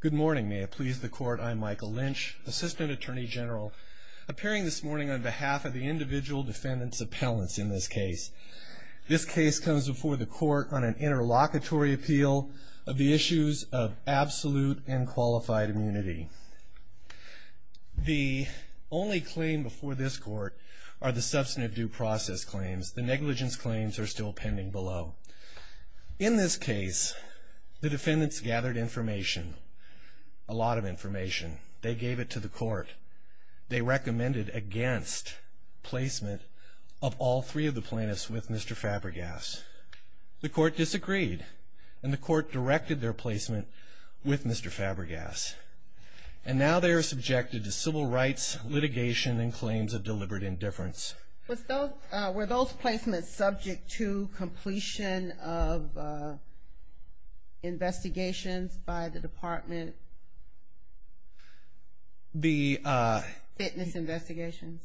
Good morning. May it please the court, I'm Michael Lynch, Assistant Attorney General, appearing this morning on behalf of the individual defendants' appellants in this case. This case comes before the court on an interlocutory appeal of the issues of absolute and qualified immunity. The only claim before this court are the substantive due process claims. The plaintiffs had a lot of information. They gave it to the court. They recommended against placement of all three of the plaintiffs with Mr. Fabregas. The court disagreed, and the court directed their placement with Mr. Fabregas. And now they are subjected to civil rights litigation and claims of deliberate indifference. Were those placements subject to completion of investigations by the department? Fitness investigations?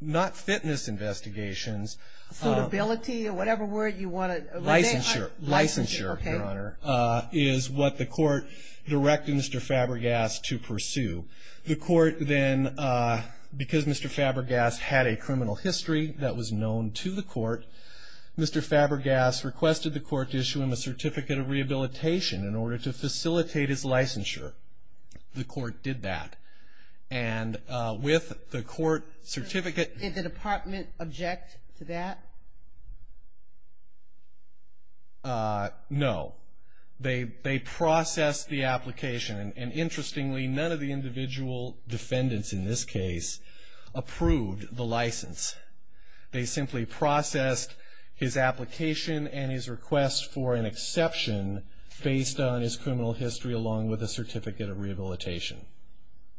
Not fitness investigations. Suitability, or whatever word you want to... Licensure. Licensure, Your Honor, is what the court directed Mr. Fabregas to pursue. The court then, because Mr. Fabregas had a criminal history that was known to the court, Mr. Fabregas requested the court to issue him a certificate of rehabilitation in order to facilitate his licensure. The court did that. And with the court certificate... Did the department object to that? No. They processed the application. And interestingly, none of the individual defendants in this case approved the license. They simply processed his application and his request for an exception based on his criminal history along with a certificate of rehabilitation.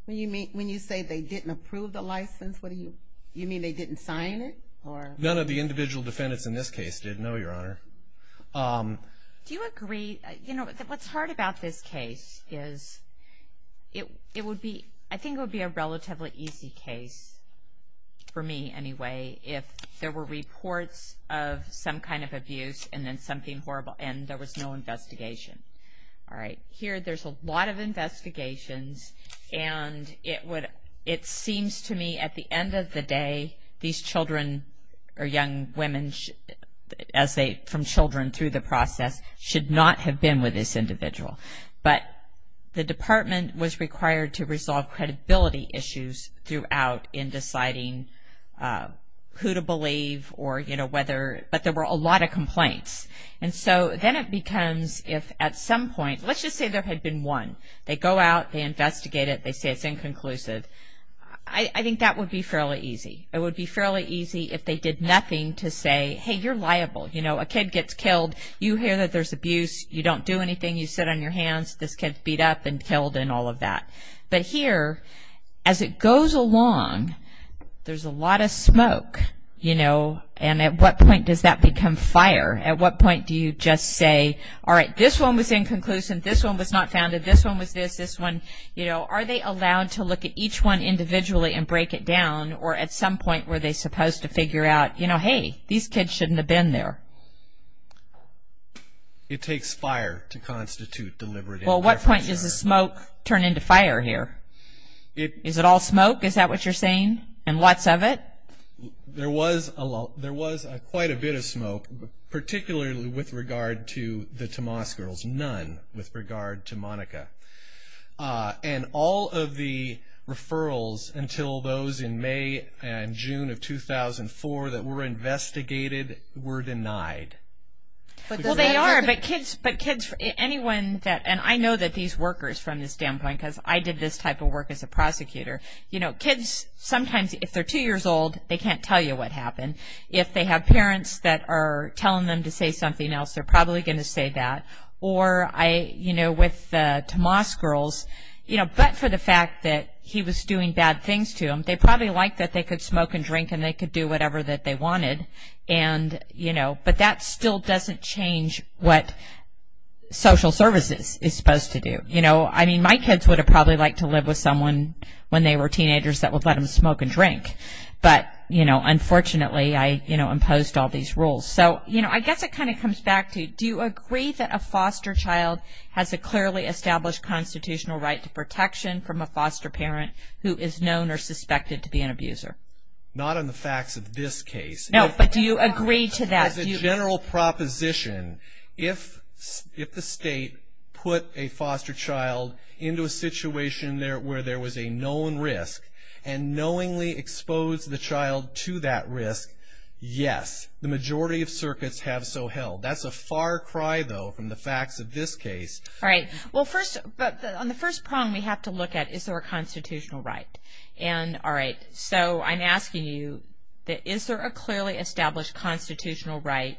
When you say they didn't approve the license, you mean they didn't sign it? None of the individual defendants in this case did, no, Your Honor. Do you agree, you know, what's hard about this case is, it would be, I think it would be a relatively easy case, for me anyway, if there were reports of some kind of abuse and then something horrible, and there was no investigation. Alright, here there's a lot of investigations, and it would, it seems to me at the end of the day, these children, or young women, as they, from children through the process, should not have been with this individual. But the department was required to resolve credibility issues throughout in deciding who to believe or, you know, whether, but there were a lot of complaints. And so then it becomes, if at some point, let's just say there had been one. They go out, they investigate it, they say it's inconclusive. I think that would be fairly easy. It would be fairly easy if they did nothing to say, hey, you're liable. You know, a kid gets killed, you hear that there's abuse, you don't do anything, you sit on your hands, this kid's beat up and killed and all of that. But here, as it goes along, there's a lot of smoke, you know, and at what point does that become fire? At what point do you just say, alright, this one was inconclusive, this one was not founded, this one was this, this one, you know, are they allowed to look at each one individually and break it down, or at some point were they supposed to figure out, you know, hey, these kids shouldn't have been there? It takes fire to constitute deliberative. Well, at what point does the smoke turn into fire here? Is it all smoke, is that what you're saying, and lots of it? There was quite a bit of smoke, particularly with regard to the Tomas girls, but there was none with regard to Monica. And all of the referrals until those in May and June of 2004 that were investigated were denied. Well, they are, but kids, anyone that, and I know that these workers from this standpoint, because I did this type of work as a prosecutor, you know, kids sometimes, if they're two years old, they can't tell you what happened. If they have parents that are telling them to say something else, they're probably going to say that. Or I, you know, with the Tomas girls, you know, but for the fact that he was doing bad things to them, they probably liked that they could smoke and drink and they could do whatever that they wanted, and, you know, but that still doesn't change what social services is supposed to do. You know, I mean, my kids would have probably liked to live with someone when they were teenagers that would let them smoke and drink, but, you know, unfortunately I, you know, imposed all these rules. So, you know, I guess it kind of comes back to do you agree that a foster child has a clearly established constitutional right to protection from a foster parent who is known or suspected to be an abuser? Not on the facts of this case. No, but do you agree to that? As a general proposition, if the state put a foster child into a situation where there was a known risk and knowingly exposed the child to that risk, yes, the majority of circuits have so held. That's a far cry, though, from the facts of this case. All right. Well, first, on the first problem we have to look at, is there a constitutional right? And, all right, so I'm asking you, is there a clearly established constitutional right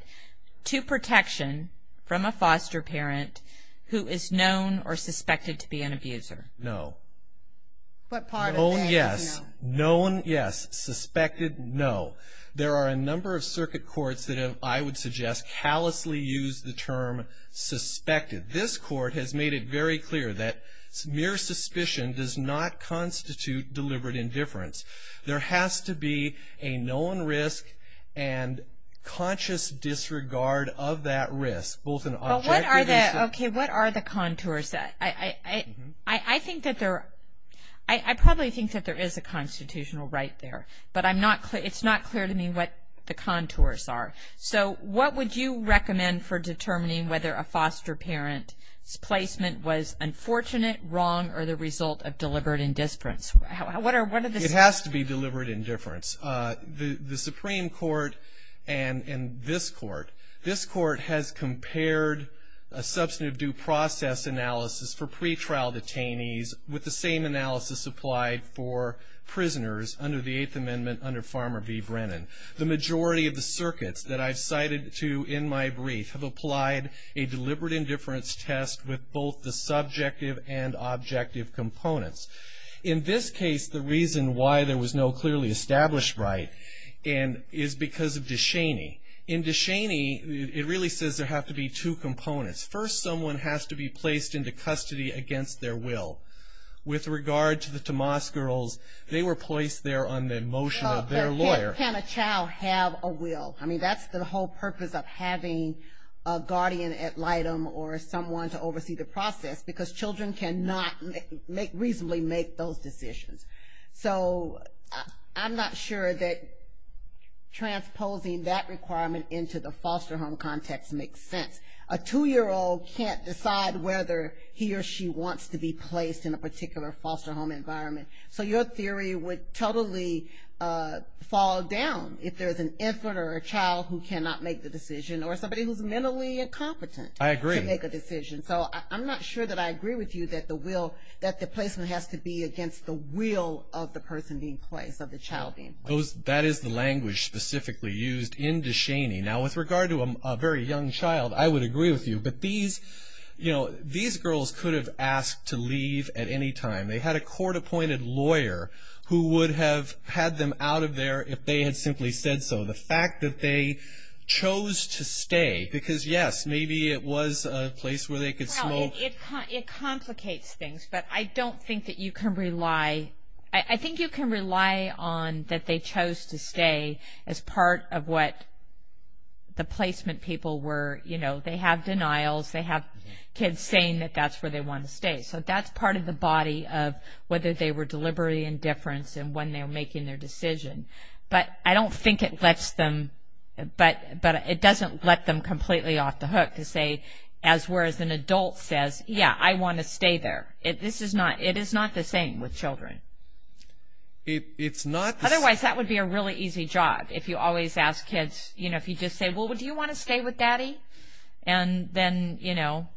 to protection from a foster parent who is known or suspected to be an abuser? No. What part of that is no? Known, yes. Known, yes. Suspected, no. There are a number of circuit courts that have, I would suggest, callously used the term suspected. This court has made it very clear that mere suspicion does not constitute deliberate indifference. There has to be a known risk and conscious disregard of that risk, both in objectivity. Well, what are the, okay, what are the contours? I think that there, I probably think that there is a constitutional right there, but I'm not, it's not clear to me what the contours are. So what would you recommend for determining whether a foster parent's placement was unfortunate, wrong, or the result of deliberate indifference? What are the... It has to be deliberate indifference. The Supreme Court and this court, this court has compared a substantive due process analysis for pretrial detainees with the same analysis applied for prisoners under the Eighth Amendment under Farmer v. Brennan. The majority of the circuits that I've cited to in my brief have applied a deliberate indifference test with both the subjective and objective components. In this case, the reason why there was no clearly established right is because of Descheny. In Descheny, it really says there have to be two components. First, someone has to be placed into custody against their will. With regard to the Tomas girls, they were placed there on the motion of their lawyer. But can a child have a will? I mean, that's the whole purpose of having a guardian ad litem or someone to oversee the process, because children cannot reasonably make those decisions. So I'm not sure that transposing that requirement into the foster home context makes sense. A two-year-old can't decide whether he or she wants to be placed in a particular foster home environment. So your theory would totally fall down if there's an infant or a child who cannot make the decision or somebody who's mentally incompetent to make a decision. I agree. So I'm not sure that I agree with you that the placement has to be against the will of the person being placed, of the child being placed. That is the language specifically used in Descheny. Now, with regard to a very young child, I would agree with you. But these girls could have asked to leave at any time. They had a court-appointed lawyer who would have had them out of there if they had simply said so. The fact that they chose to stay, because, yes, maybe it was a place where they could smoke. Well, it complicates things, but I don't think that you can rely. I think you can rely on that they chose to stay as part of what the placement people were, you know. They have denials. They have kids saying that that's where they want to stay. So that's part of the body of whether they were deliberately indifference and when they were making their decision. But I don't think it lets them, but it doesn't let them completely off the hook to say, as whereas an adult says, yeah, I want to stay there. This is not, it is not the same with children. It's not. Otherwise, that would be a really easy job if you always ask kids, you know, if you just say, well, do you want to stay with Daddy? And then, you know,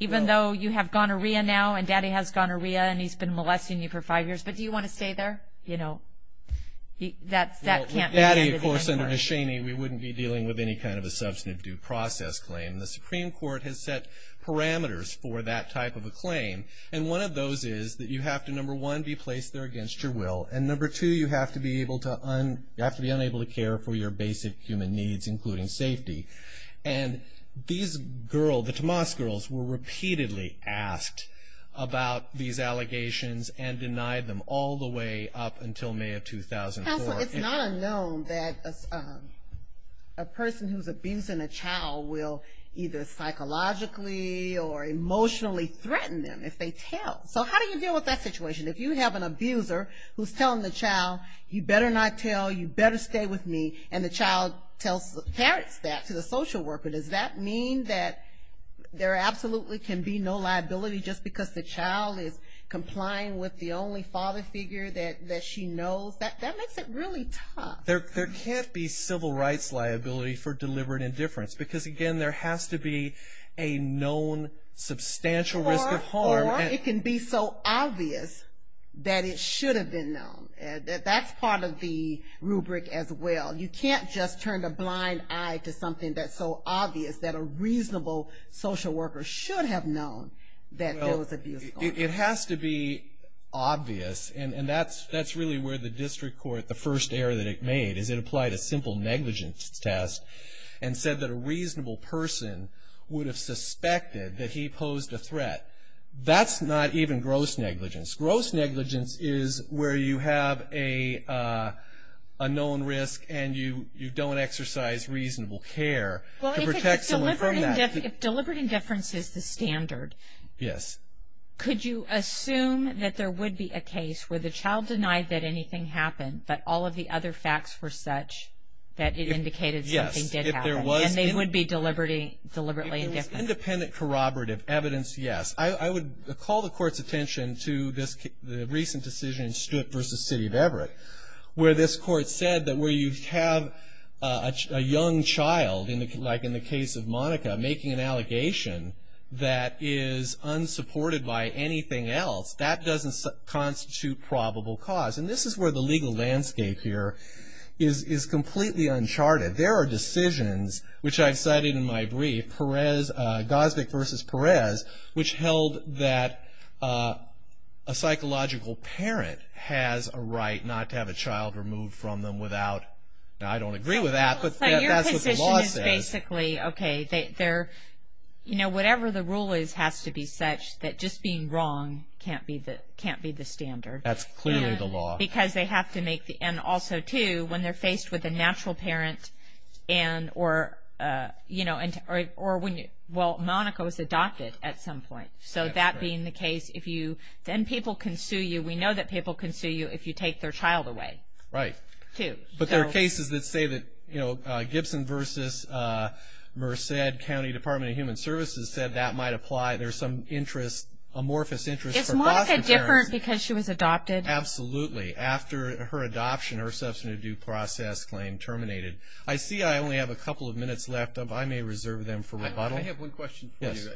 even though you have gonorrhea now and Daddy has gonorrhea and he's been molesting you for five years, but do you want to stay there? You know, that can't be the case. Well, with Daddy, of course, under Hoshaini, we wouldn't be dealing with any kind of a substantive due process claim. The Supreme Court has set parameters for that type of a claim, and one of those is that you have to, number one, be placed there against your will, and number two, you have to be unable to care for your basic human needs, including safety. And these girls, the Tomas girls, were repeatedly asked about these allegations and denied them all the way up until May of 2004. Counsel, it's not unknown that a person who's abusing a child will either psychologically or emotionally threaten them if they tell. So how do you deal with that situation? If you have an abuser who's telling the child, you better not tell, you better stay with me, and the child tells the parents that to the social worker, does that mean that there absolutely can be no liability just because the child is complying with the only father figure that she knows? That makes it really tough. There can't be civil rights liability for deliberate indifference because, again, there has to be a known substantial risk of harm. Or it can be so obvious that it should have been known. That's part of the rubric as well. You can't just turn a blind eye to something that's so obvious that a reasonable social worker should have known that there was abuse going on. It has to be obvious, and that's really where the district court, the first error that it made, is it applied a simple negligence test and said that a reasonable person would have suspected that he posed a threat. That's not even gross negligence. Gross negligence is where you have a known risk, and you don't exercise reasonable care to protect someone from that. If deliberate indifference is the standard, could you assume that there would be a case where the child denied that anything happened, but all of the other facts were such that it indicated something did happen, and they would be deliberately indifferent? Independent corroborative evidence, yes. I would call the court's attention to the recent decision in Stewart v. City of Everett where this court said that where you have a young child, like in the case of Monica, making an allegation that is unsupported by anything else, that doesn't constitute probable cause. And this is where the legal landscape here is completely uncharted. There are decisions, which I've cited in my brief, Gosvick v. Perez, which held that a psychological parent has a right not to have a child removed from them without, now I don't agree with that, but that's what the law says. Your position is basically, okay, whatever the rule is has to be such that just being wrong can't be the standard. That's clearly the law. Because they have to make the, and also, too, when they're faced with a natural parent and, or, you know, or when, well, Monica was adopted at some point. So that being the case, if you, then people can sue you. We know that people can sue you if you take their child away. Right. But there are cases that say that, you know, Gibson v. Merced County Department of Human Services said that might apply. There's some interest, amorphous interest for Gosvick parents. Is Monica different because she was adopted? Absolutely. After her adoption, her substantive due process claim terminated. I see I only have a couple of minutes left. I may reserve them for rebuttal. I have one question for you. Yes.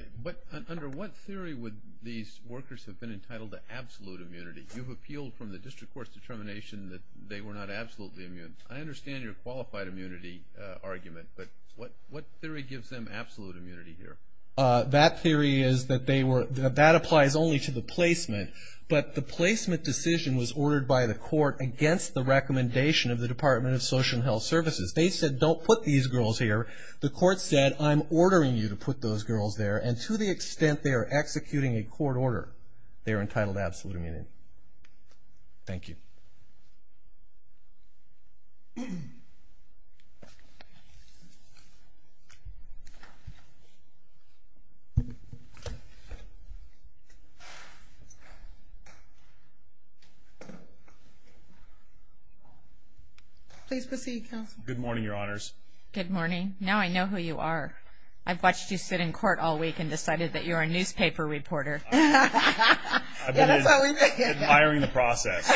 Under what theory would these workers have been entitled to absolute immunity? You've appealed from the district court's determination that they were not absolutely immune. I understand your qualified immunity argument, but what theory gives them absolute immunity here? That theory is that they were, that applies only to the placement. But the placement decision was ordered by the court against the recommendation of the Department of Social and Health Services. They said, don't put these girls here. The court said, I'm ordering you to put those girls there. And to the extent they are executing a court order, they are entitled to absolute immunity. Thank you. Please proceed, counsel. Good morning, Your Honors. Good morning. Now I know who you are. I've watched you sit in court all week and decided that you're a newspaper reporter. I've been admiring the process.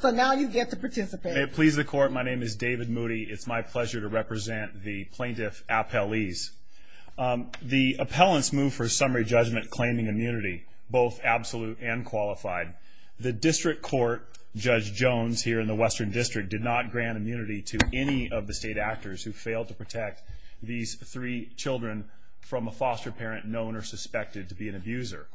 So now you get to participate. May it please the court, my name is David Moody. It's my pleasure to represent the plaintiff appellees. The appellants move for a summary judgment claiming immunity, both absolute and qualified. The district court, Judge Jones here in the Western District, did not grant immunity to any of the state actors who failed to protect these three children from a foster parent known or suspected to be an abuser.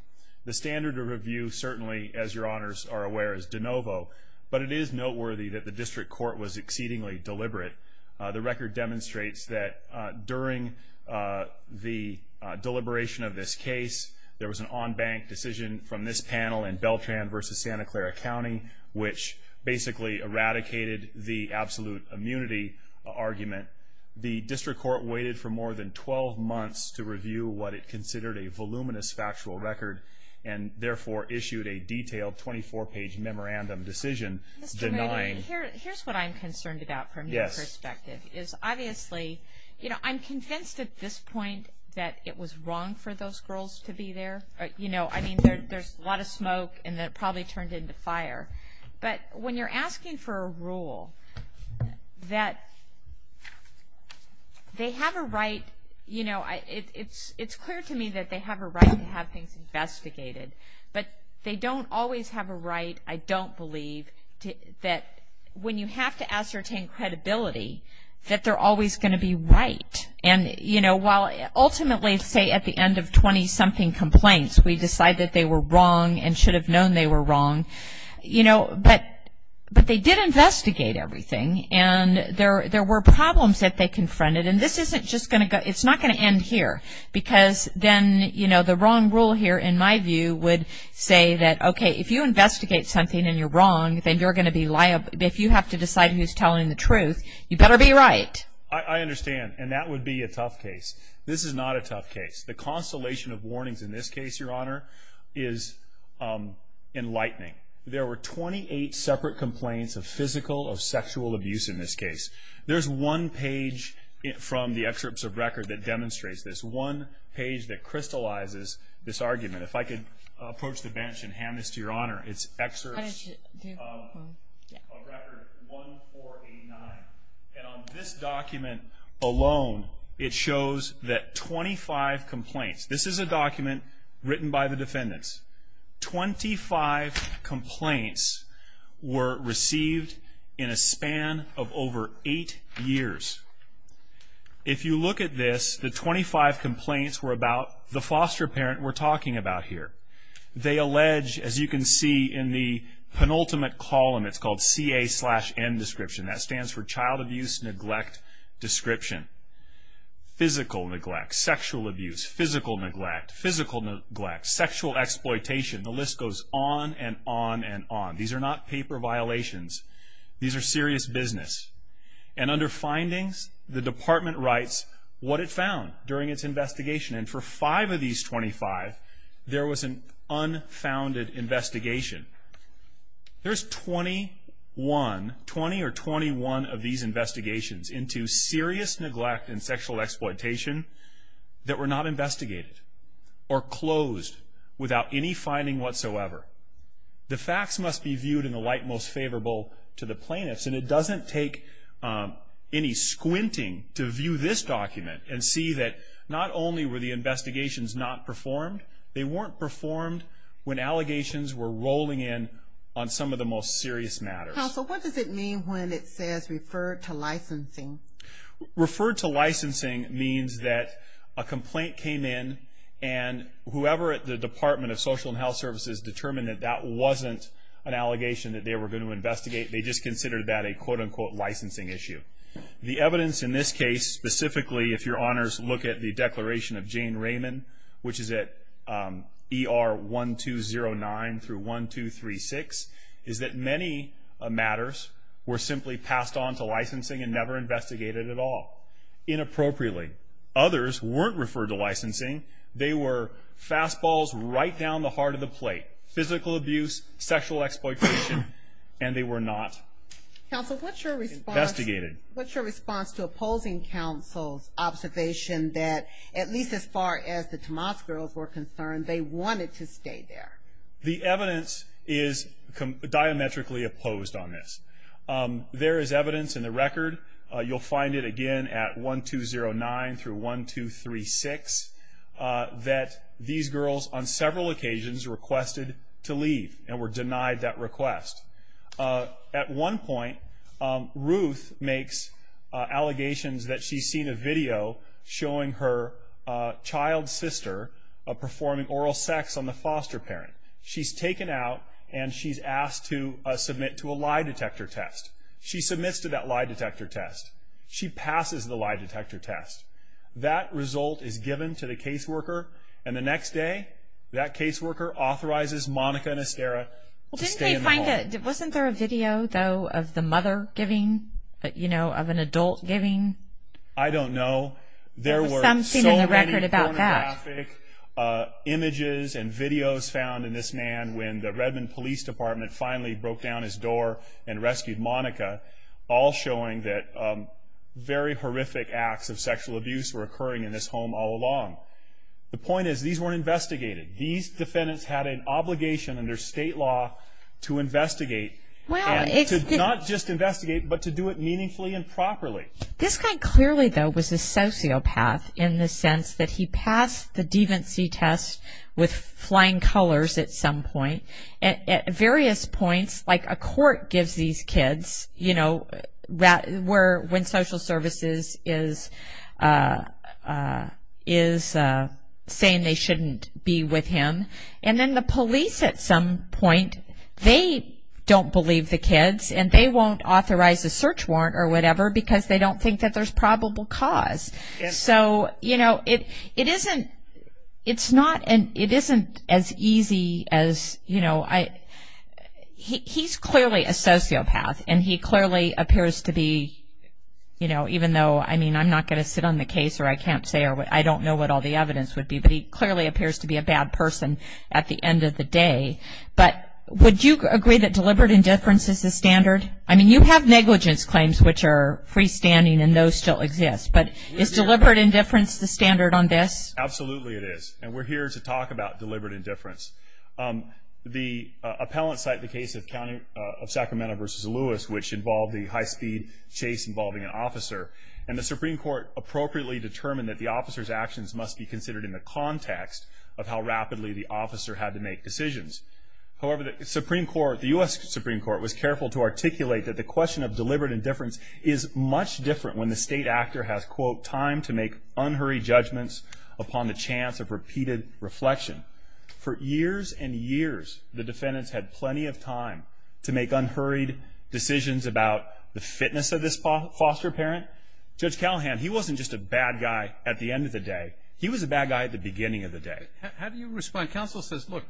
The standard of review, certainly, as Your Honors are aware, is de novo. But it is noteworthy that the district court was exceedingly deliberate. The record demonstrates that during the deliberation of this case, there was an on-bank decision from this panel in Beltran v. Santa Clara County, which basically eradicated the absolute immunity argument. The district court waited for more than 12 months to review what it considered a voluminous factual record and therefore issued a detailed 24-page memorandum decision denying. Mr. Moody, here's what I'm concerned about from your perspective. Yes. Obviously, I'm convinced at this point that it was wrong for those girls to be there. I mean, there's a lot of smoke and it probably turned into fire. But when you're asking for a rule that they have a right, it's clear to me that they have a right to have things investigated. But they don't always have a right, I don't believe, that when you have to ascertain credibility, that they're always going to be right. And, you know, while ultimately, say, at the end of 20-something complaints, we decide that they were wrong and should have known they were wrong. You know, but they did investigate everything, and there were problems that they confronted. And this isn't just going to go, it's not going to end here. Because then, you know, the wrong rule here, in my view, would say that, okay, if you investigate something and you're wrong, then you're going to be liable. If you have to decide who's telling the truth, you better be right. I understand, and that would be a tough case. This is not a tough case. The constellation of warnings in this case, Your Honor, is enlightening. There were 28 separate complaints of physical or sexual abuse in this case. There's one page from the excerpts of record that demonstrates this. One page that crystallizes this argument. If I could approach the bench and hand this to Your Honor. It's excerpts of record 1489. And on this document alone, it shows that 25 complaints. This is a document written by the defendants. 25 complaints were received in a span of over eight years. If you look at this, the 25 complaints were about the foster parent we're talking about here. They allege, as you can see in the penultimate column, it's called CA-N description. That stands for Child Abuse Neglect Description. Physical neglect, sexual abuse, physical neglect, physical neglect, sexual exploitation, the list goes on and on and on. These are not paper violations. These are serious business. And under findings, the department writes what it found during its investigation. And for five of these 25, there was an unfounded investigation. There's 20 or 21 of these investigations into serious neglect and sexual exploitation that were not investigated or closed without any finding whatsoever. The facts must be viewed in the light most favorable to the plaintiffs. And it doesn't take any squinting to view this document and see that not only were the investigations not performed, they weren't performed when allegations were rolling in on some of the most serious matters. Counsel, what does it mean when it says referred to licensing? Referred to licensing means that a complaint came in and whoever at the Department of Social and Health Services determined that that wasn't an allegation that they were going to investigate, they just considered that a quote-unquote licensing issue. The evidence in this case, specifically if your honors look at the declaration of Jane Raymond, which is at ER 1209 through 1236, is that many matters were simply passed on to licensing and never investigated at all. Inappropriately. Others weren't referred to licensing. They were fastballs right down the heart of the plate. Physical abuse, sexual exploitation, and they were not investigated. Counsel, what's your response to opposing counsel's observation that, at least as far as the Tomas girls were concerned, they wanted to stay there? The evidence is diametrically opposed on this. There is evidence in the record, you'll find it again at 1209 through 1236, that these girls on several occasions requested to leave and were denied that request. At one point, Ruth makes allegations that she's seen a video showing her child sister performing oral sex on the foster parent. She's taken out, and she's asked to submit to a lie detector test. She submits to that lie detector test. She passes the lie detector test. That result is given to the caseworker, and the next day, that caseworker authorizes Monica and Estera to stay in the home. Wasn't there a video, though, of the mother giving, of an adult giving? I don't know. There were so many pornographic images and videos found in this man when the Redmond Police Department finally broke down his door and rescued Monica, all showing that very horrific acts of sexual abuse were occurring in this home all along. The point is, these were investigated. These defendants had an obligation under state law to investigate, not just investigate, but to do it meaningfully and properly. This guy clearly, though, was a sociopath in the sense that he passed the devancy test with flying colors at some point. At various points, like a court gives these kids, you know, when social services is saying they shouldn't be with him, and then the police at some point, they don't believe the kids, and they won't authorize a search warrant or whatever because they don't think that there's probable cause. So, you know, it isn't as easy as, you know, he's clearly a sociopath, and he clearly appears to be, you know, even though, I mean, I'm not going to sit on the case or I can't say or I don't know what all the evidence would be, but he clearly appears to be a bad person at the end of the day. But would you agree that deliberate indifference is the standard? I mean, you have negligence claims, which are freestanding, and those still exist, but is deliberate indifference the standard on this? Absolutely it is, and we're here to talk about deliberate indifference. The appellants cite the case of Sacramento v. Lewis, which involved the high-speed chase involving an officer, and the Supreme Court appropriately determined that the officer's actions must be considered in the context of how rapidly the officer had to make decisions. However, the Supreme Court, the U.S. Supreme Court, was careful to articulate that the question of deliberate indifference is much different when the state actor has, quote, time to make unhurried judgments upon the chance of repeated reflection. For years and years, the defendants had plenty of time to make unhurried decisions about the fitness of this foster parent. Judge Callahan, he wasn't just a bad guy at the end of the day. He was a bad guy at the beginning of the day. How do you respond? Counsel says, look,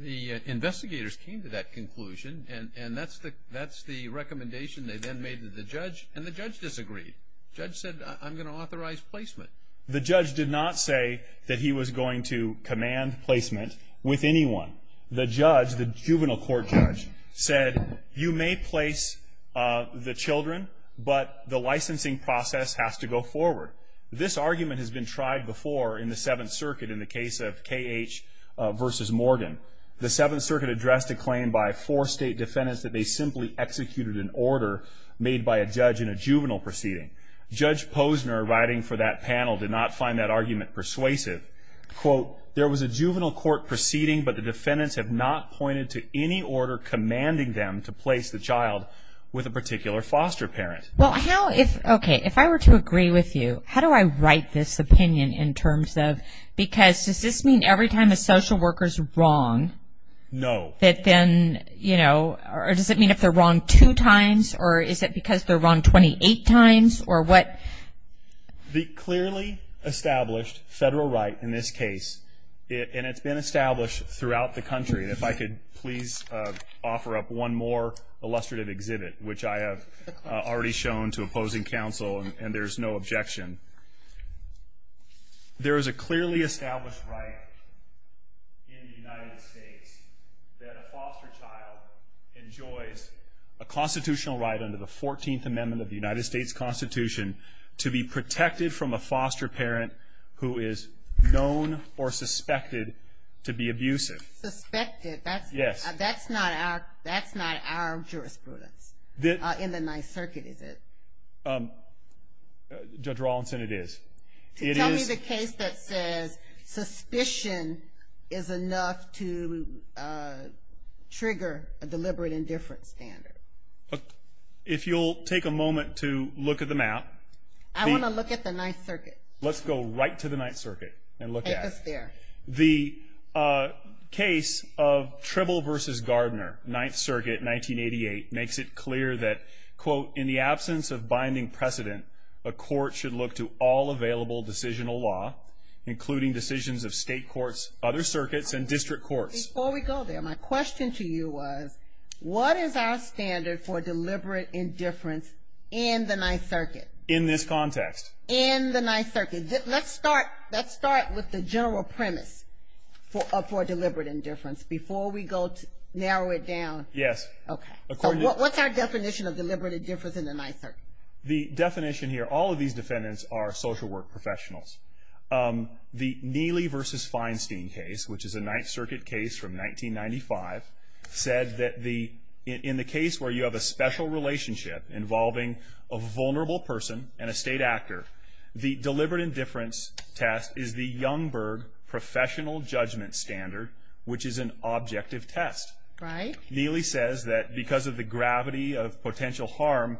the investigators came to that conclusion, and that's the recommendation they then made to the judge, and the judge disagreed. The judge said, I'm going to authorize placement. The judge did not say that he was going to command placement with anyone. The judge, the juvenile court judge, said, you may place the children, but the licensing process has to go forward. This argument has been tried before in the Seventh Circuit in the case of K.H. versus Morgan. The Seventh Circuit addressed a claim by four state defendants that they simply executed an order made by a judge in a juvenile proceeding. Judge Posner, writing for that panel, did not find that argument persuasive. Quote, there was a juvenile court proceeding, but the defendants have not pointed to any order commanding them to place the child with a particular foster parent. Well, how if, okay, if I were to agree with you, how do I write this opinion in terms of, because does this mean every time a social worker's wrong that then, you know, or does it mean if they're wrong two times, or is it because they're wrong 28 times, or what? The clearly established federal right in this case, and it's been established throughout the country, and if I could please offer up one more illustrative exhibit, which I have already shown to opposing counsel, and there's no objection. There is a clearly established right in the United States that a foster child enjoys a constitutional right under the 14th Amendment of the United States Constitution to be protected from a foster parent who is known or suspected to be abusive. Suspected? Yes. That's not our jurisprudence in the Ninth Circuit, is it? Judge Rawlinson, it is. Tell me the case that says suspicion is enough to trigger a deliberate indifference standard. If you'll take a moment to look at the map. I want to look at the Ninth Circuit. Let's go right to the Ninth Circuit and look at it. Take us there. The case of Tribble v. Gardner, Ninth Circuit, 1988, makes it clear that, quote, in the absence of binding precedent, a court should look to all available decisional law, including decisions of state courts, other circuits, and district courts. Before we go there, my question to you was, what is our standard for deliberate indifference in the Ninth Circuit? In this context. In the Ninth Circuit. Let's start with the general premise for deliberate indifference. Before we go, narrow it down. Yes. Okay. What's our definition of deliberate indifference in the Ninth Circuit? The definition here, all of these defendants are social work professionals. The Neely v. Feinstein case, which is a Ninth Circuit case from 1995, said that in the case where you have a special relationship involving a vulnerable person and a state actor, the deliberate indifference test is the Youngberg professional judgment standard, which is an objective test. Right. Neely says that because of the gravity of potential harm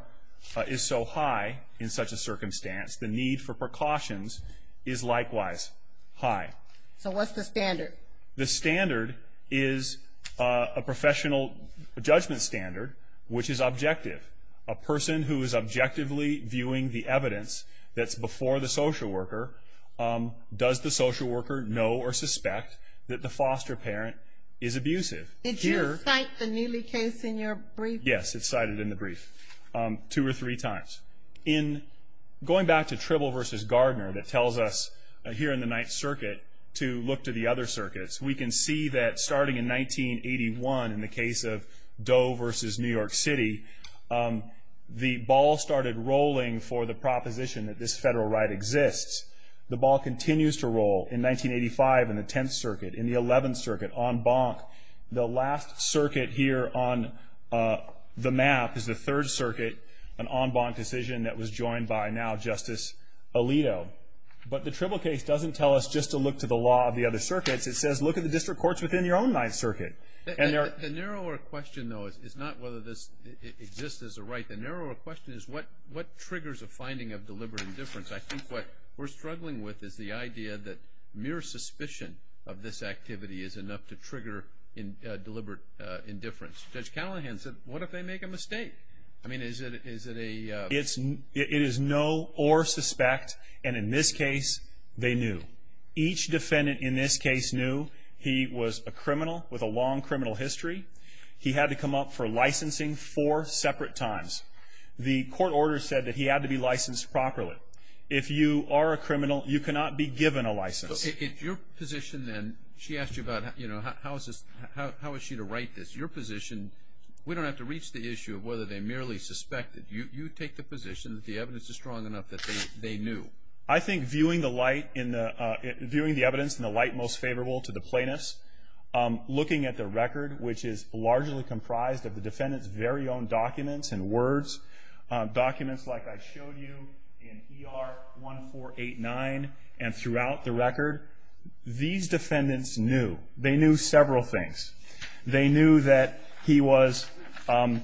is so high in such a circumstance, the need for precautions is likewise high. So what's the standard? The standard is a professional judgment standard, which is objective. A person who is objectively viewing the evidence that's before the social worker, does the social worker know or suspect that the foster parent is abusive? Did you cite the Neely case in your brief? Yes, it's cited in the brief two or three times. Going back to Tribble v. Gardner that tells us here in the Ninth Circuit to look to the other circuits, we can see that starting in 1981 in the case of Doe v. New York City, the ball started rolling for the proposition that this federal right exists. The ball continues to roll in 1985 in the Tenth Circuit, in the Eleventh Circuit, en banc. The last circuit here on the map is the Third Circuit, an en banc decision that was joined by now Justice Alito. But the Tribble case doesn't tell us just to look to the law of the other circuits. It says look at the district courts within your own Ninth Circuit. The narrower question, though, is not whether this exists as a right. The narrower question is what triggers a finding of deliberate indifference. I think what we're struggling with is the idea that mere suspicion of this activity is enough to trigger deliberate indifference. Judge Callahan said, what if they make a mistake? I mean, is it a— It is no or suspect, and in this case, they knew. Each defendant in this case knew he was a criminal with a long criminal history. He had to come up for licensing four separate times. The court order said that he had to be licensed properly. If you are a criminal, you cannot be given a license. In your position, then, she asked you about how is she to write this. Your position, we don't have to reach the issue of whether they merely suspected. You take the position that the evidence is strong enough that they knew. I think viewing the light in the—viewing the evidence in the light most favorable to the plaintiffs, looking at the record, which is largely comprised of the defendant's very own documents and words, documents like I showed you in ER 1489 and throughout the record, these defendants knew. They knew several things. They knew that he was—had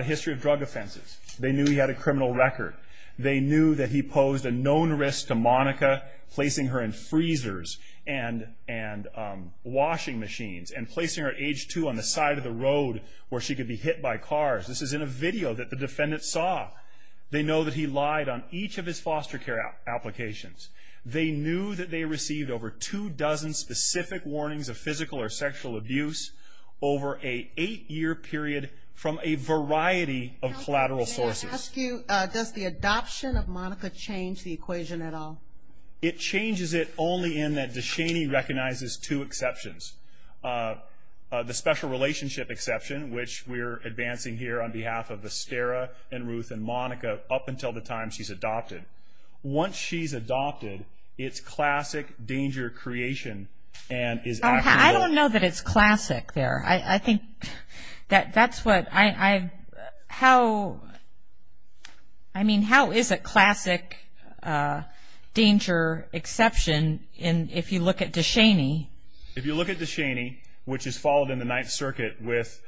a history of drug offenses. They knew he had a criminal record. They knew that he posed a known risk to Monica, placing her in freezers and washing machines and placing her at age two on the side of the road where she could be hit by cars. This is in a video that the defendant saw. They know that he lied on each of his foster care applications. They knew that they received over two dozen specific warnings of physical or sexual abuse over an eight-year period from a variety of collateral sources. Can I ask you, does the adoption of Monica change the equation at all? It changes it only in that DeShaney recognizes two exceptions. The special relationship exception, which we're advancing here on behalf of Estera and Ruth and Monica up until the time she's adopted. Once she's adopted, it's classic danger creation and is— I don't know that it's classic there. I think that that's what—I mean, how is it classic danger exception if you look at DeShaney? If you look at DeShaney, which is followed in the Ninth Circuit with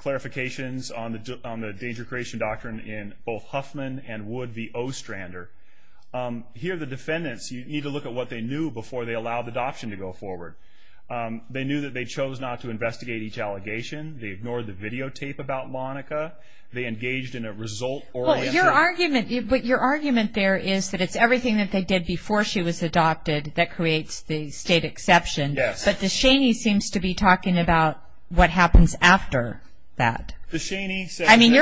clarifications on the danger creation doctrine in both Huffman and Wood v. Ostrander, here the defendants, you need to look at what they knew before they allowed adoption to go forward. They knew that they chose not to investigate each allegation. They ignored the videotape about Monica. They engaged in a result-oriented— Well, your argument there is that it's everything that they did before she was adopted that creates the state exception. Yes. But DeShaney seems to be talking about what happens after that. DeShaney— I mean,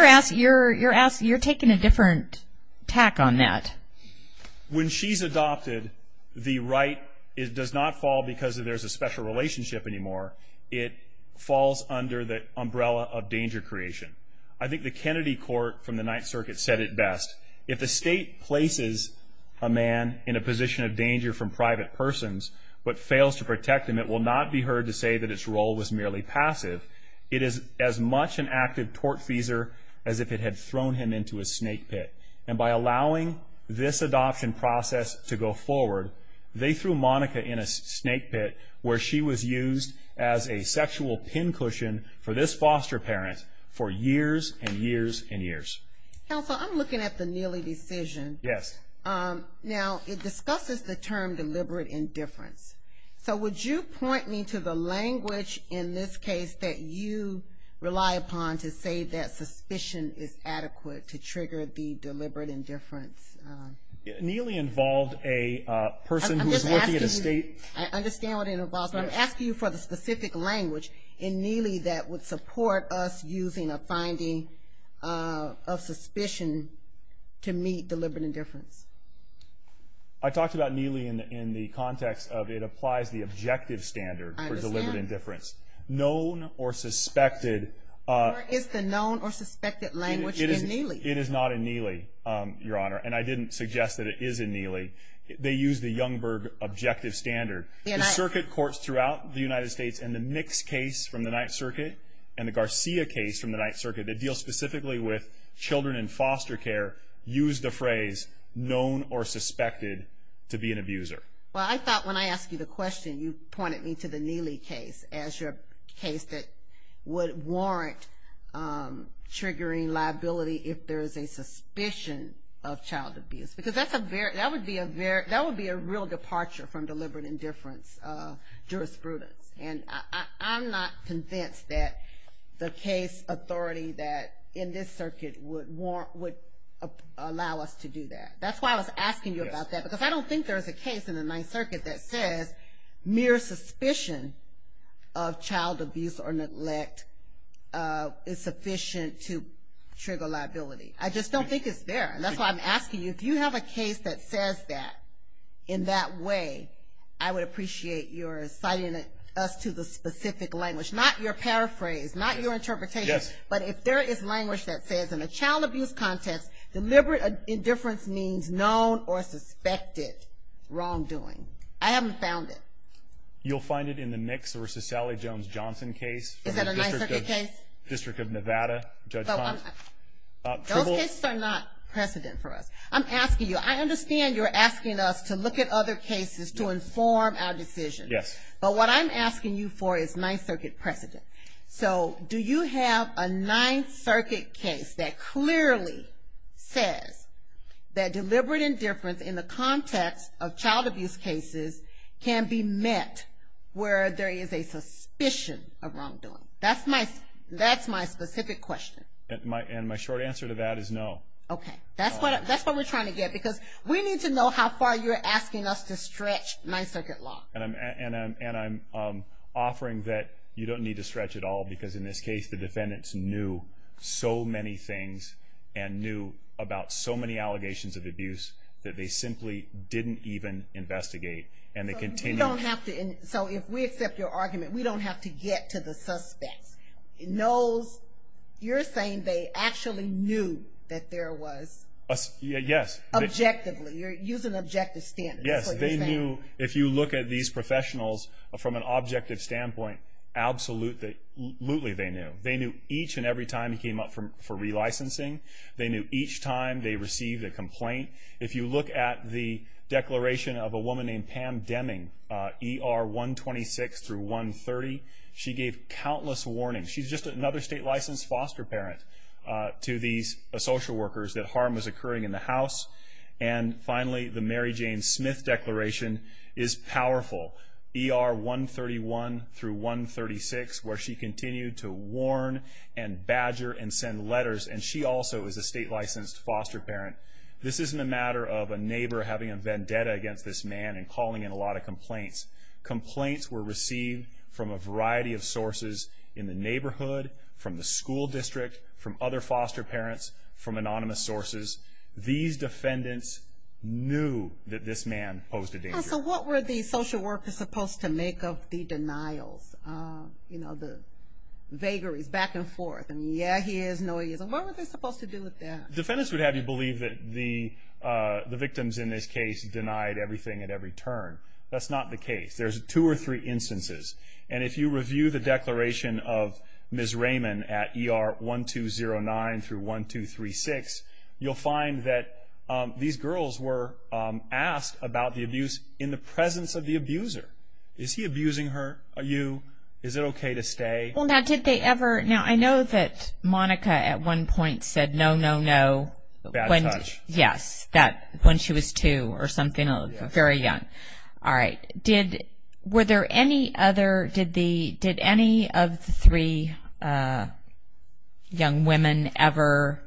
you're taking a different tack on that. When she's adopted, the right does not fall because there's a special relationship anymore. It falls under the umbrella of danger creation. I think the Kennedy court from the Ninth Circuit said it best. If the state places a man in a position of danger from private persons but fails to protect him, it will not be heard to say that its role was merely passive. It is as much an active tortfeasor as if it had thrown him into a snake pit. And by allowing this adoption process to go forward, they threw Monica in a snake pit where she was used as a sexual pin cushion for this foster parent for years and years and years. Counsel, I'm looking at the Neely decision. Yes. Now, it discusses the term deliberate indifference. So would you point me to the language in this case that you rely upon to say that suspicion is adequate to trigger the deliberate indifference? Neely involved a person who was working at a state— I understand what it involves, but I'm asking you for the specific language in Neely that would support us using a finding of suspicion to meet deliberate indifference. I talked about Neely in the context of it applies the objective standard for deliberate indifference. I understand. Known or suspected— Or is the known or suspected language in Neely? It is not in Neely, Your Honor, and I didn't suggest that it is in Neely. They use the Youngberg objective standard. The circuit courts throughout the United States and the Mix case from the Ninth Circuit and the Garcia case from the Ninth Circuit that deal specifically with children in foster care use the phrase known or suspected to be an abuser. Well, I thought when I asked you the question, you pointed me to the Neely case as your case that would warrant triggering liability if there is a suspicion of child abuse. Because that would be a real departure from deliberate indifference jurisprudence. And I'm not convinced that the case authority in this circuit would allow us to do that. That's why I was asking you about that. Because I don't think there is a case in the Ninth Circuit that says mere suspicion of child abuse or neglect is sufficient to trigger liability. I just don't think it's there. And that's why I'm asking you, do you have a case that says that in that way? I would appreciate your citing us to the specific language, not your paraphrase, not your interpretation. But if there is language that says in a child abuse context, deliberate indifference means known or suspected wrongdoing. I haven't found it. You'll find it in the Nicks v. Sally Jones-Johnson case. Is that a Ninth Circuit case? District of Nevada. Those cases are not precedent for us. I'm asking you, I understand you're asking us to look at other cases to inform our decisions. But what I'm asking you for is Ninth Circuit precedent. So do you have a Ninth Circuit case that clearly says that deliberate indifference in the context of child abuse cases can be met where there is a suspicion of wrongdoing? That's my specific question. And my short answer to that is no. Okay. That's what we're trying to get. Because we need to know how far you're asking us to stretch Ninth Circuit law. And I'm offering that you don't need to stretch at all because in this case the defendants knew so many things and knew about so many allegations of abuse that they simply didn't even investigate. So if we accept your argument, we don't have to get to the suspects. You're saying they actually knew that there was? Yes. Objectively. You're using objective standards. Yes, they knew. If you look at these professionals from an objective standpoint, absolutely they knew. They knew each and every time he came up for relicensing. They knew each time they received a complaint. If you look at the declaration of a woman named Pam Deming, ER 126 through 130, she gave countless warnings. She's just another state-licensed foster parent to these social workers that harm was occurring in the house. And finally, the Mary Jane Smith declaration is powerful. ER 131 through 136, where she continued to warn and badger and send letters. And she also is a state-licensed foster parent. This isn't a matter of a neighbor having a vendetta against this man and calling in a lot of complaints. Complaints were received from a variety of sources in the neighborhood, from the school district, from other foster parents, from anonymous sources. These defendants knew that this man posed a danger. So what were the social workers supposed to make of the denials, you know, the vagaries back and forth? Yeah, he is. No, he isn't. What were they supposed to do with that? Defendants would have you believe that the victims in this case denied everything at every turn. That's not the case. There's two or three instances. And if you review the declaration of Ms. Raymond at ER 1209 through 1236, you'll find that these girls were asked about the abuse in the presence of the abuser. Is he abusing her? Are you? Is it okay to stay? Well, now, did they ever? Now, I know that Monica at one point said no, no, no. Bad touch. Yes, when she was two or something, very young. All right. Were there any other? Did any of the three young women ever,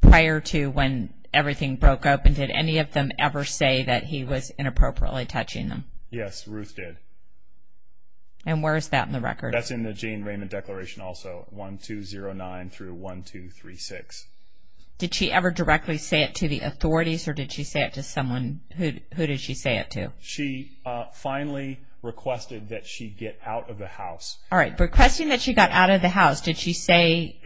prior to when everything broke up, and did any of them ever say that he was inappropriately touching them? Yes, Ruth did. And where is that in the record? That's in the Jane Raymond declaration also, 1209 through 1236. Did she ever directly say it to the authorities, or did she say it to someone? Who did she say it to? She finally requested that she get out of the house. All right. Requesting that she got out of the house, did she say,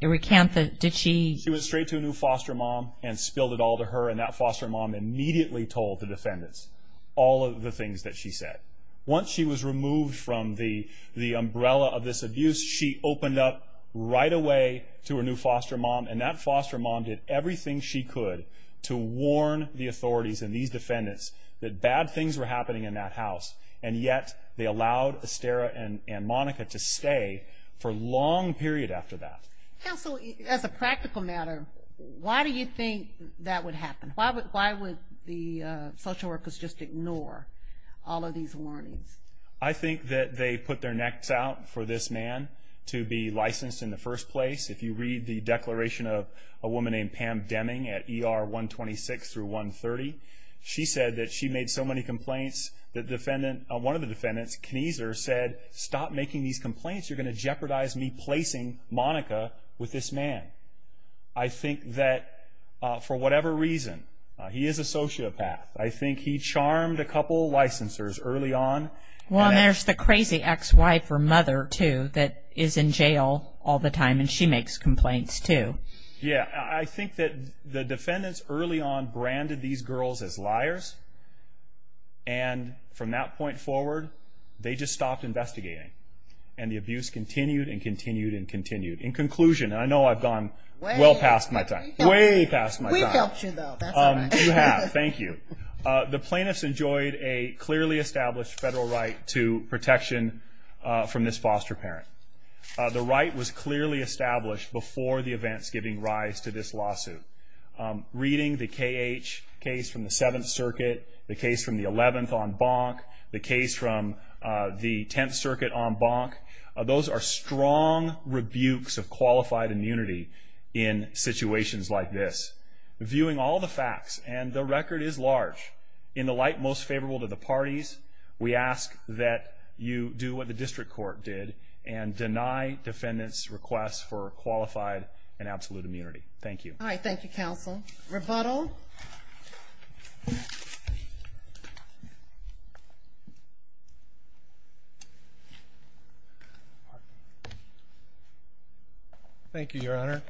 recant the, did she? She went straight to a new foster mom and spilled it all to her, and that foster mom immediately told the defendants all of the things that she said. Once she was removed from the umbrella of this abuse, she opened up right away to her new foster mom, and that foster mom did everything she could to warn the authorities and these defendants that bad things were happening in that house, and yet they allowed Estera and Monica to stay for a long period after that. Counsel, as a practical matter, why do you think that would happen? Why would the social workers just ignore all of these warnings? I think that they put their necks out for this man to be licensed in the first place. If you read the declaration of a woman named Pam Deming at ER 126 through 130, she said that she made so many complaints that one of the defendants, Kniezer, said, Stop making these complaints. You're going to jeopardize me placing Monica with this man. I think that for whatever reason, he is a sociopath. I think he charmed a couple licensors early on. Well, and there's the crazy ex-wife or mother, too, that is in jail all the time, and she makes complaints, too. Yeah, I think that the defendants early on branded these girls as liars, and from that point forward, they just stopped investigating, and the abuse continued and continued and continued. In conclusion, and I know I've gone well past my time. Way past my time. We helped you, though. You have. Thank you. The plaintiffs enjoyed a clearly established federal right to protection from this foster parent. The right was clearly established before the events giving rise to this lawsuit. Reading the KH case from the 7th Circuit, the case from the 11th on Bonk, the case from the 10th Circuit on Bonk, those are strong rebukes of qualified immunity in situations like this. Viewing all the facts, and the record is large, in the light most favorable to the parties, we ask that you do what the district court did and deny defendants' requests for qualified and absolute immunity. Thank you. All right. Thank you, counsel. Rebuttal. Thank you, Your Honor.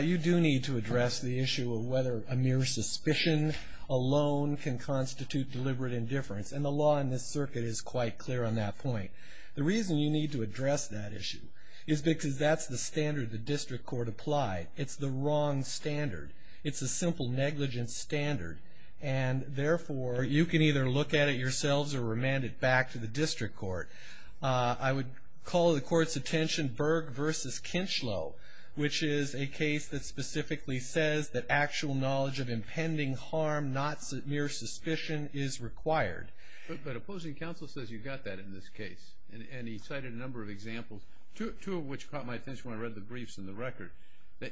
You do need to address the issue of whether a mere suspicion alone can constitute deliberate indifference, and the law in this circuit is quite clear on that point. The reason you need to address that issue is because that's the standard the district court applied. It's the wrong standard. It's a simple negligence standard, and, therefore, you can either look at it yourselves or remand it back to the district court. I would call to the court's attention Berg v. Kinchlow, which is a case that specifically says that actual knowledge of impending harm, not mere suspicion, is required. But opposing counsel says you got that in this case, and he cited a number of examples, two of which caught my attention when I read the briefs and the record.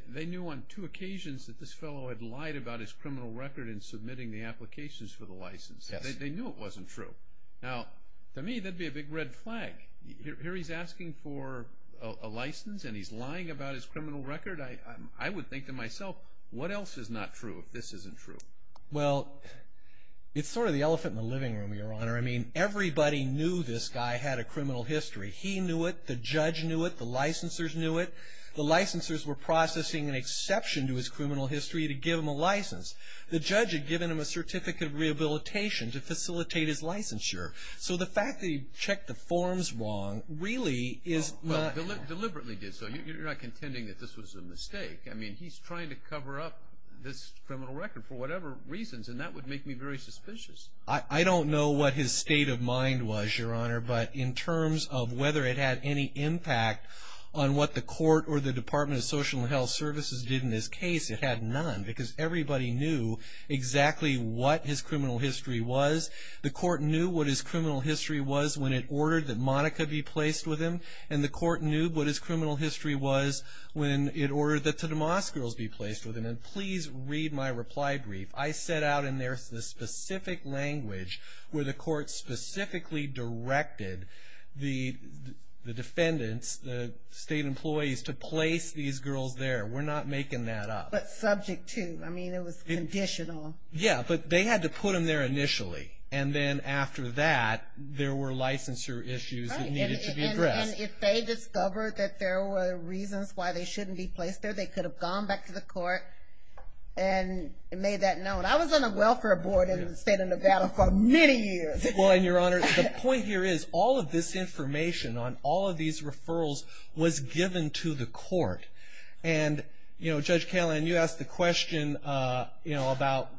They knew on two occasions that this fellow had lied about his criminal record in submitting the applications for the license. They knew it wasn't true. Now, to me, that would be a big red flag. Here he's asking for a license, and he's lying about his criminal record? I would think to myself, what else is not true if this isn't true? Well, it's sort of the elephant in the living room, Your Honor. I mean, everybody knew this guy had a criminal history. He knew it. The judge knew it. The licensors knew it. The licensors were processing an exception to his criminal history to give him a license. The judge had given him a certificate of rehabilitation to facilitate his licensure. So the fact that he checked the forms wrong really is not... Well, deliberately did so. You're not contending that this was a mistake. I mean, he's trying to cover up this criminal record for whatever reasons, and that would make me very suspicious. I don't know what his state of mind was, Your Honor, but in terms of whether it had any impact on what the court or the Department of Social and Health Services did in this case, it had none, because everybody knew exactly what his criminal history was. The court knew what his criminal history was when it ordered that Monica be placed with him, and the court knew what his criminal history was when it ordered that the DeMoss girls be placed with him. And please read my reply brief. I set out in there the specific language where the court specifically directed the defendants, the state employees, to place these girls there. We're not making that up. But subject to. I mean, it was conditional. Yeah, but they had to put them there initially, and then after that there were licensure issues that needed to be addressed. And if they discovered that there were reasons why they shouldn't be placed there, they could have gone back to the court and made that known. I was on the welfare board in the state of Nevada for many years. Well, Your Honor, the point here is all of this information on all of these referrals was given to the court. And, you know, Judge Kalan, you asked the question, you know, about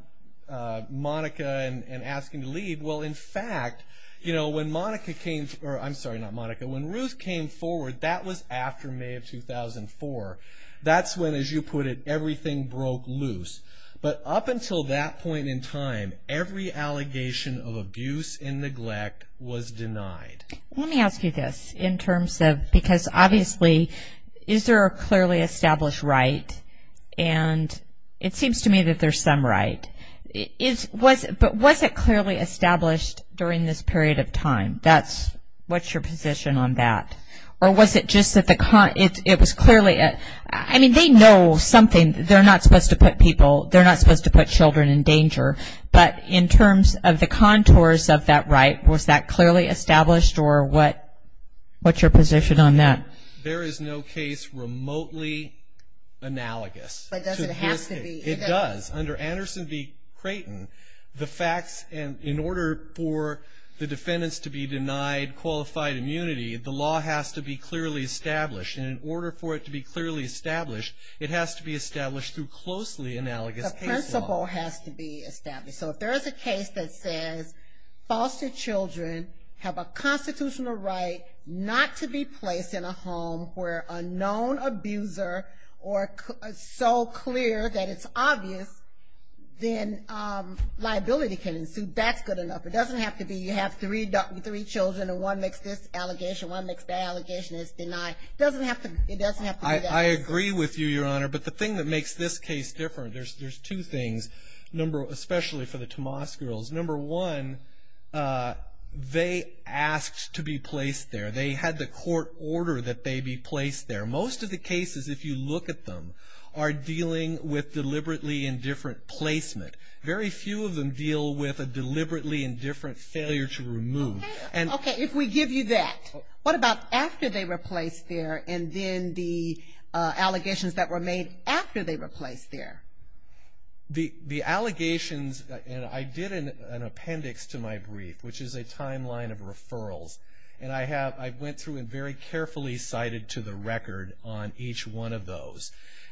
Monica and asking to leave. Well, in fact, you know, when Monica came, or I'm sorry, not Monica, when Ruth came forward, that was after May of 2004. That's when, as you put it, everything broke loose. But up until that point in time, every allegation of abuse and neglect was denied. Let me ask you this in terms of because, obviously, is there a clearly established right? And it seems to me that there's some right. But was it clearly established during this period of time? What's your position on that? Or was it just that it was clearly a – I mean, they know something. They're not supposed to put people – they're not supposed to put children in danger. But in terms of the contours of that right, was that clearly established? Or what's your position on that? There is no case remotely analogous. But does it have to be? It does. Under Anderson v. Creighton, the facts and in order for the defendants to be denied qualified immunity, the law has to be clearly established. And in order for it to be clearly established, it has to be established through closely analogous case law. The principle has to be established. So if there is a case that says foster children have a constitutional right not to be placed in a home where a known abuser or so clear that it's obvious, then liability can ensue. That's good enough. It doesn't have to be you have three children and one makes this allegation, one makes that allegation, it's denied. It doesn't have to be that. I agree with you, Your Honor. But the thing that makes this case different, there's two things, especially for the Tomas girls. Number one, they asked to be placed there. They had the court order that they be placed there. Most of the cases, if you look at them, are dealing with deliberately indifferent placement. Very few of them deal with a deliberately indifferent failure to remove. Okay, if we give you that. What about after they were placed there and then the allegations that were made after they were placed there? The allegations, and I did an appendix to my brief, which is a timeline of referrals, and I went through and very carefully cited to the record on each one of those.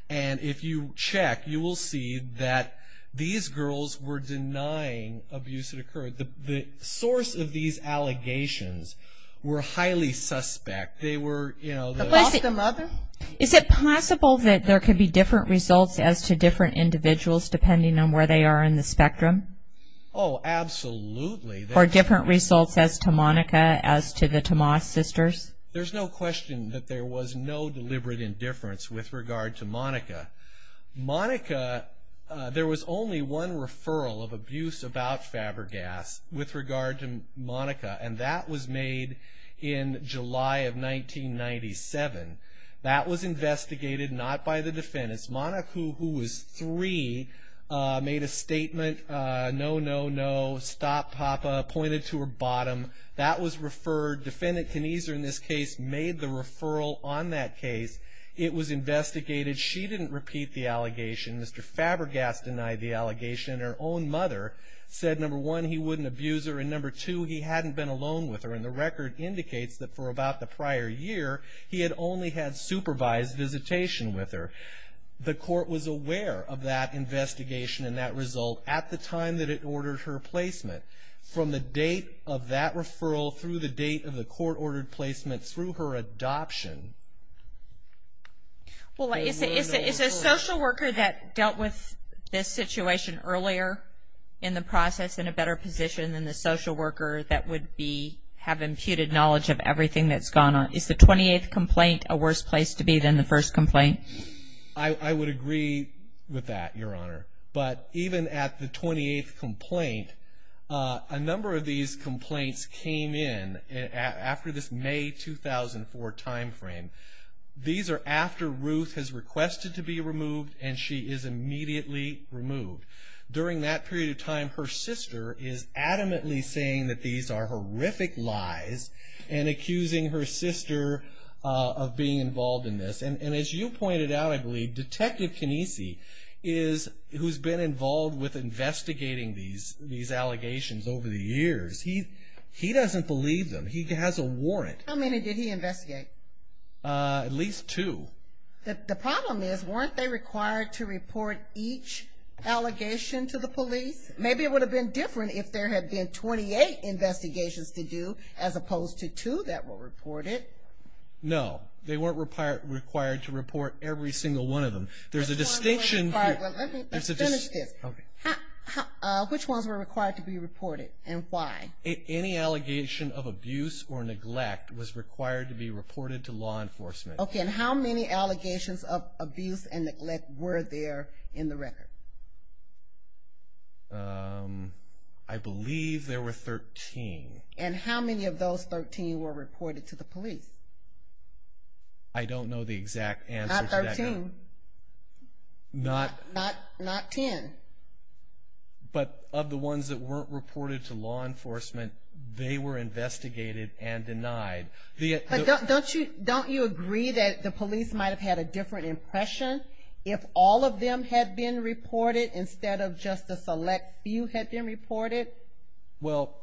And if you check, you will see that these girls were denying abuse had occurred. The source of these allegations were highly suspect. They were, you know. The mother? Is it possible that there could be different results as to different individuals, depending on where they are in the spectrum? Oh, absolutely. Or different results as to Monica, as to the Tomas sisters? There's no question that there was no deliberate indifference with regard to Monica. Monica, there was only one referral of abuse about Fabergas with regard to Monica, and that was made in July of 1997. That was investigated, not by the defendants. Monica, who was three, made a statement, no, no, no. Stop, Papa, pointed to her bottom. That was referred. Defendant Kniezer, in this case, made the referral on that case. It was investigated. She didn't repeat the allegation. Mr. Fabergas denied the allegation. And her own mother said, number one, he wouldn't abuse her, and number two, he hadn't been alone with her. And the record indicates that for about the prior year, he had only had supervised visitation with her. The court was aware of that investigation and that result at the time that it ordered her placement. From the date of that referral through the date of the court-ordered placement through her adoption- Well, is a social worker that dealt with this situation earlier in the process in a better position than the social worker that would have imputed knowledge of everything that's gone on? Is the 28th complaint a worse place to be than the first complaint? I would agree with that, Your Honor. But even at the 28th complaint, a number of these complaints came in. After this May 2004 timeframe. These are after Ruth has requested to be removed, and she is immediately removed. During that period of time, her sister is adamantly saying that these are horrific lies and accusing her sister of being involved in this. And as you pointed out, I believe, Detective Canese, who's been involved with investigating these allegations over the years, he doesn't believe them. He has a warrant. How many did he investigate? At least two. The problem is, weren't they required to report each allegation to the police? Maybe it would have been different if there had been 28 investigations to do as opposed to two that were reported. No, they weren't required to report every single one of them. There's a distinction- Let's finish this. Which ones were required to be reported, and why? Any allegation of abuse or neglect was required to be reported to law enforcement. Okay, and how many allegations of abuse and neglect were there in the record? I believe there were 13. And how many of those 13 were reported to the police? I don't know the exact answer to that, Your Honor. Not 13? Not- Not 10? But of the ones that weren't reported to law enforcement, they were investigated and denied. But don't you agree that the police might have had a different impression if all of them had been reported instead of just a select few had been reported? Well,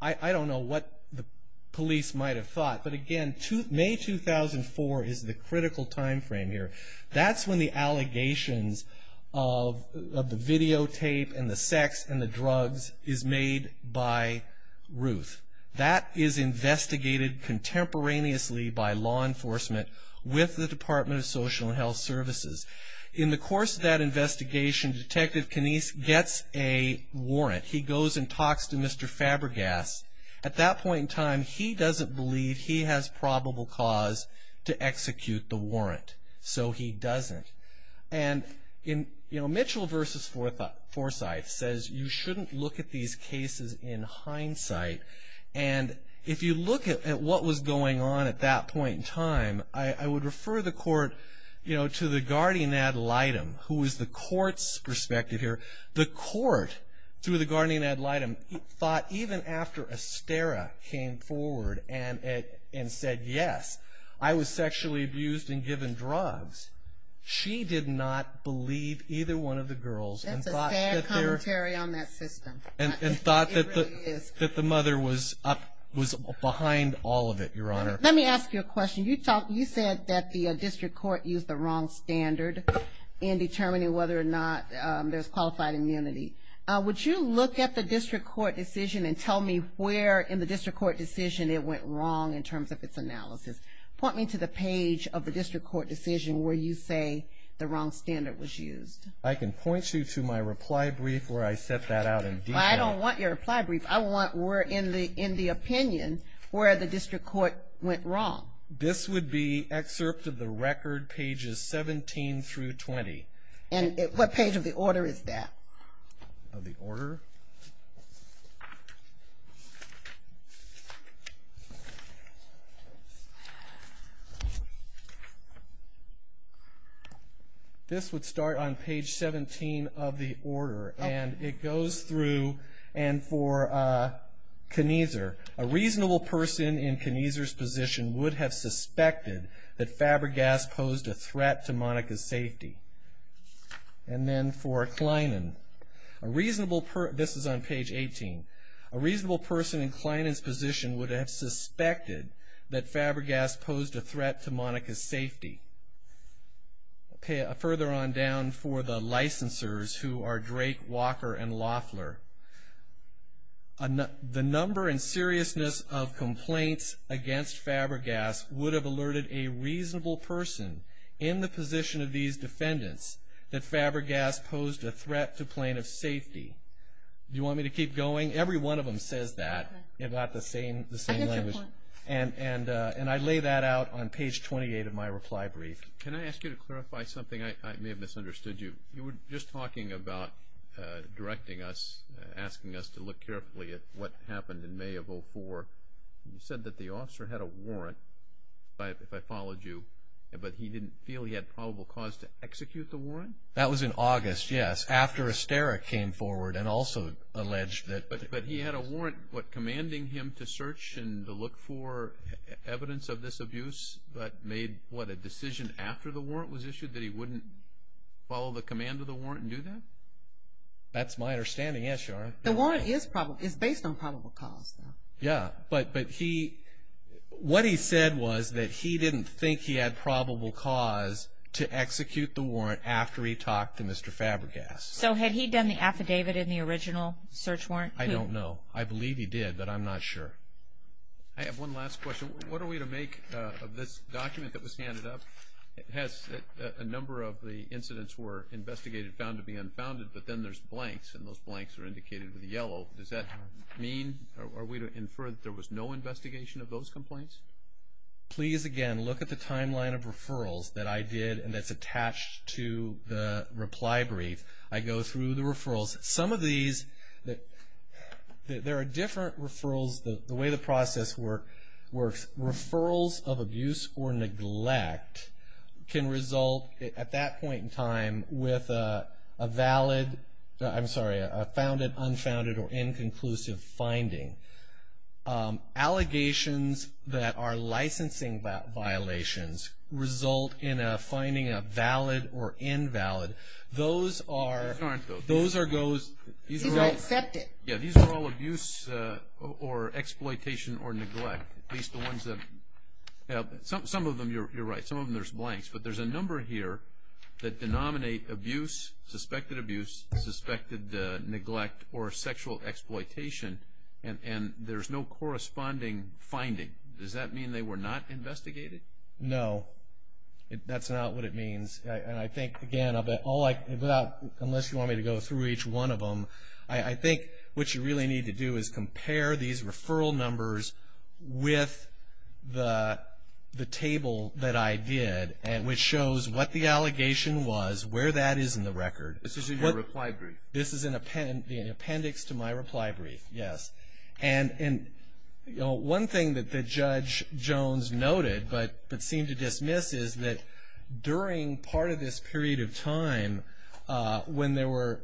I don't know what the police might have thought. But again, May 2004 is the critical timeframe here. That's when the allegations of the videotape and the sex and the drugs is made by Ruth. That is investigated contemporaneously by law enforcement with the Department of Social and Health Services. In the course of that investigation, Detective Canese gets a warrant. He goes and talks to Mr. Fabergas. At that point in time, he doesn't believe he has probable cause to execute the warrant. So he doesn't. And Mitchell v. Forsythe says you shouldn't look at these cases in hindsight. And if you look at what was going on at that point in time, I would refer the court to the guardian ad litem, who is the court's perspective here. The court, through the guardian ad litem, thought even after Estera came forward and said, yes, I was sexually abused and given drugs, she did not believe either one of the girls. That's a sad commentary on that system. And thought that the mother was behind all of it, Your Honor. Let me ask you a question. You said that the district court used the wrong standard in determining whether or not there's qualified immunity. Would you look at the district court decision and tell me where in the district court decision it went wrong in terms of its analysis? Point me to the page of the district court decision where you say the wrong standard was used. I can point you to my reply brief where I set that out in detail. I don't want your reply brief. I want where in the opinion where the district court went wrong. This would be excerpt of the record, pages 17 through 20. And what page of the order is that? Of the order? This would start on page 17 of the order. And it goes through, and for Kniezer, a reasonable person in Kniezer's position would have suspected that Fabergas posed a threat to Monica's safety. And then for Kleinan, this is on page 18. A reasonable person in Kleinan's position would have suspected that Fabergas posed a threat to Monica's safety. Further on down for the licensors, who are Drake, Walker, and Loeffler, the number and seriousness of complaints against Fabergas would have alerted a reasonable person in the position of these defendants that Fabergas posed a threat to plaintiff's safety. Do you want me to keep going? Every one of them says that. They're not the same language. And I lay that out on page 28 of my reply brief. Can I ask you to clarify something? I may have misunderstood you. You were just talking about directing us, asking us to look carefully at what happened in May of 04. You said that the officer had a warrant, if I followed you, but he didn't feel he had probable cause to execute the warrant? That was in August, yes, after Estera came forward and also alleged that. But he had a warrant, what, commanding him to search and to look for evidence of this abuse, but made, what, a decision after the warrant was issued that he wouldn't follow the command of the warrant and do that? That's my understanding, yes, Your Honor. The warrant is based on probable cause, though. Yes, but he, what he said was that he didn't think he had probable cause to execute the warrant after he talked to Mr. Fabregas. So had he done the affidavit in the original search warrant? I don't know. I believe he did, but I'm not sure. I have one last question. What are we to make of this document that was handed up? It has a number of the incidents were investigated, found to be unfounded, but then there's blanks, and those blanks are indicated with a yellow. Does that mean, are we to infer that there was no investigation of those complaints? Please, again, look at the timeline of referrals that I did and that's attached to the reply brief. I go through the referrals. Some of these, there are different referrals, the way the process works. Referrals of abuse or neglect can result at that point in time with a valid, I'm sorry, a founded, unfounded, or inconclusive finding. Allegations that are licensing violations result in a finding of valid or invalid. Those are, those are those. He's all accepted. Yeah, these are all abuse or exploitation or neglect, at least the ones that, some of them you're right, some of them there's blanks, but there's a number here that denominate abuse, suspected abuse, suspected neglect, or sexual exploitation, and there's no corresponding finding. Does that mean they were not investigated? No, that's not what it means. And I think, again, unless you want me to go through each one of them, I think what you really need to do is compare these referral numbers with the table that I did, which shows what the allegation was, where that is in the record. This is in your reply brief? This is in appendix to my reply brief, yes. And one thing that Judge Jones noted but seemed to dismiss is that during part of this period of time, when there were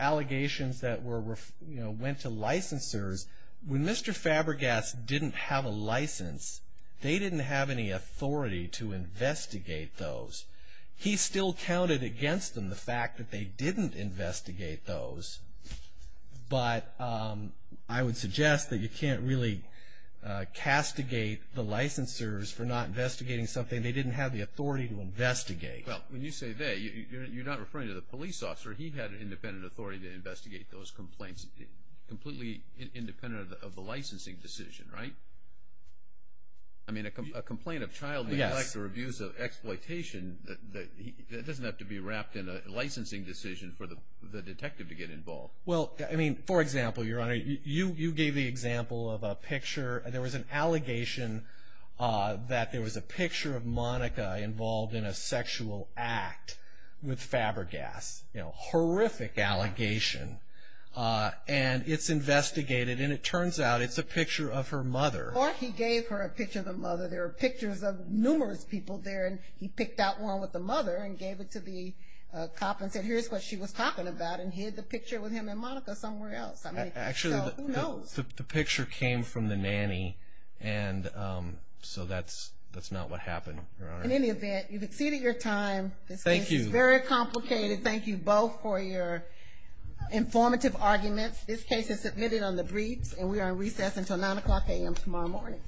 allegations that went to licensors, when Mr. Fabergas didn't have a license, they didn't have any authority to investigate those. He still counted against them the fact that they didn't investigate those, but I would suggest that you can't really castigate the licensors for not investigating something they didn't have the authority to investigate. Well, when you say they, you're not referring to the police officer. He had independent authority to investigate those complaints, completely independent of the licensing decision, right? I mean, a complaint of child neglect or abuse of exploitation, that doesn't have to be wrapped in a licensing decision for the detective to get involved. Well, I mean, for example, Your Honor, you gave the example of a picture. There was an allegation that there was a picture of Monica involved in a sexual act with Fabergas. It's a horrific allegation, and it's investigated, and it turns out it's a picture of her mother. Or he gave her a picture of the mother. There are pictures of numerous people there, and he picked out one with the mother and gave it to the cop and said, here's what she was talking about, and hid the picture with him and Monica somewhere else. Actually, the picture came from the nanny, and so that's not what happened. In any event, you've exceeded your time. Thank you. It's very complicated. Thank you both for your informative arguments. This case is submitted on the briefs, and we are on recess until 9 o'clock a.m. tomorrow morning.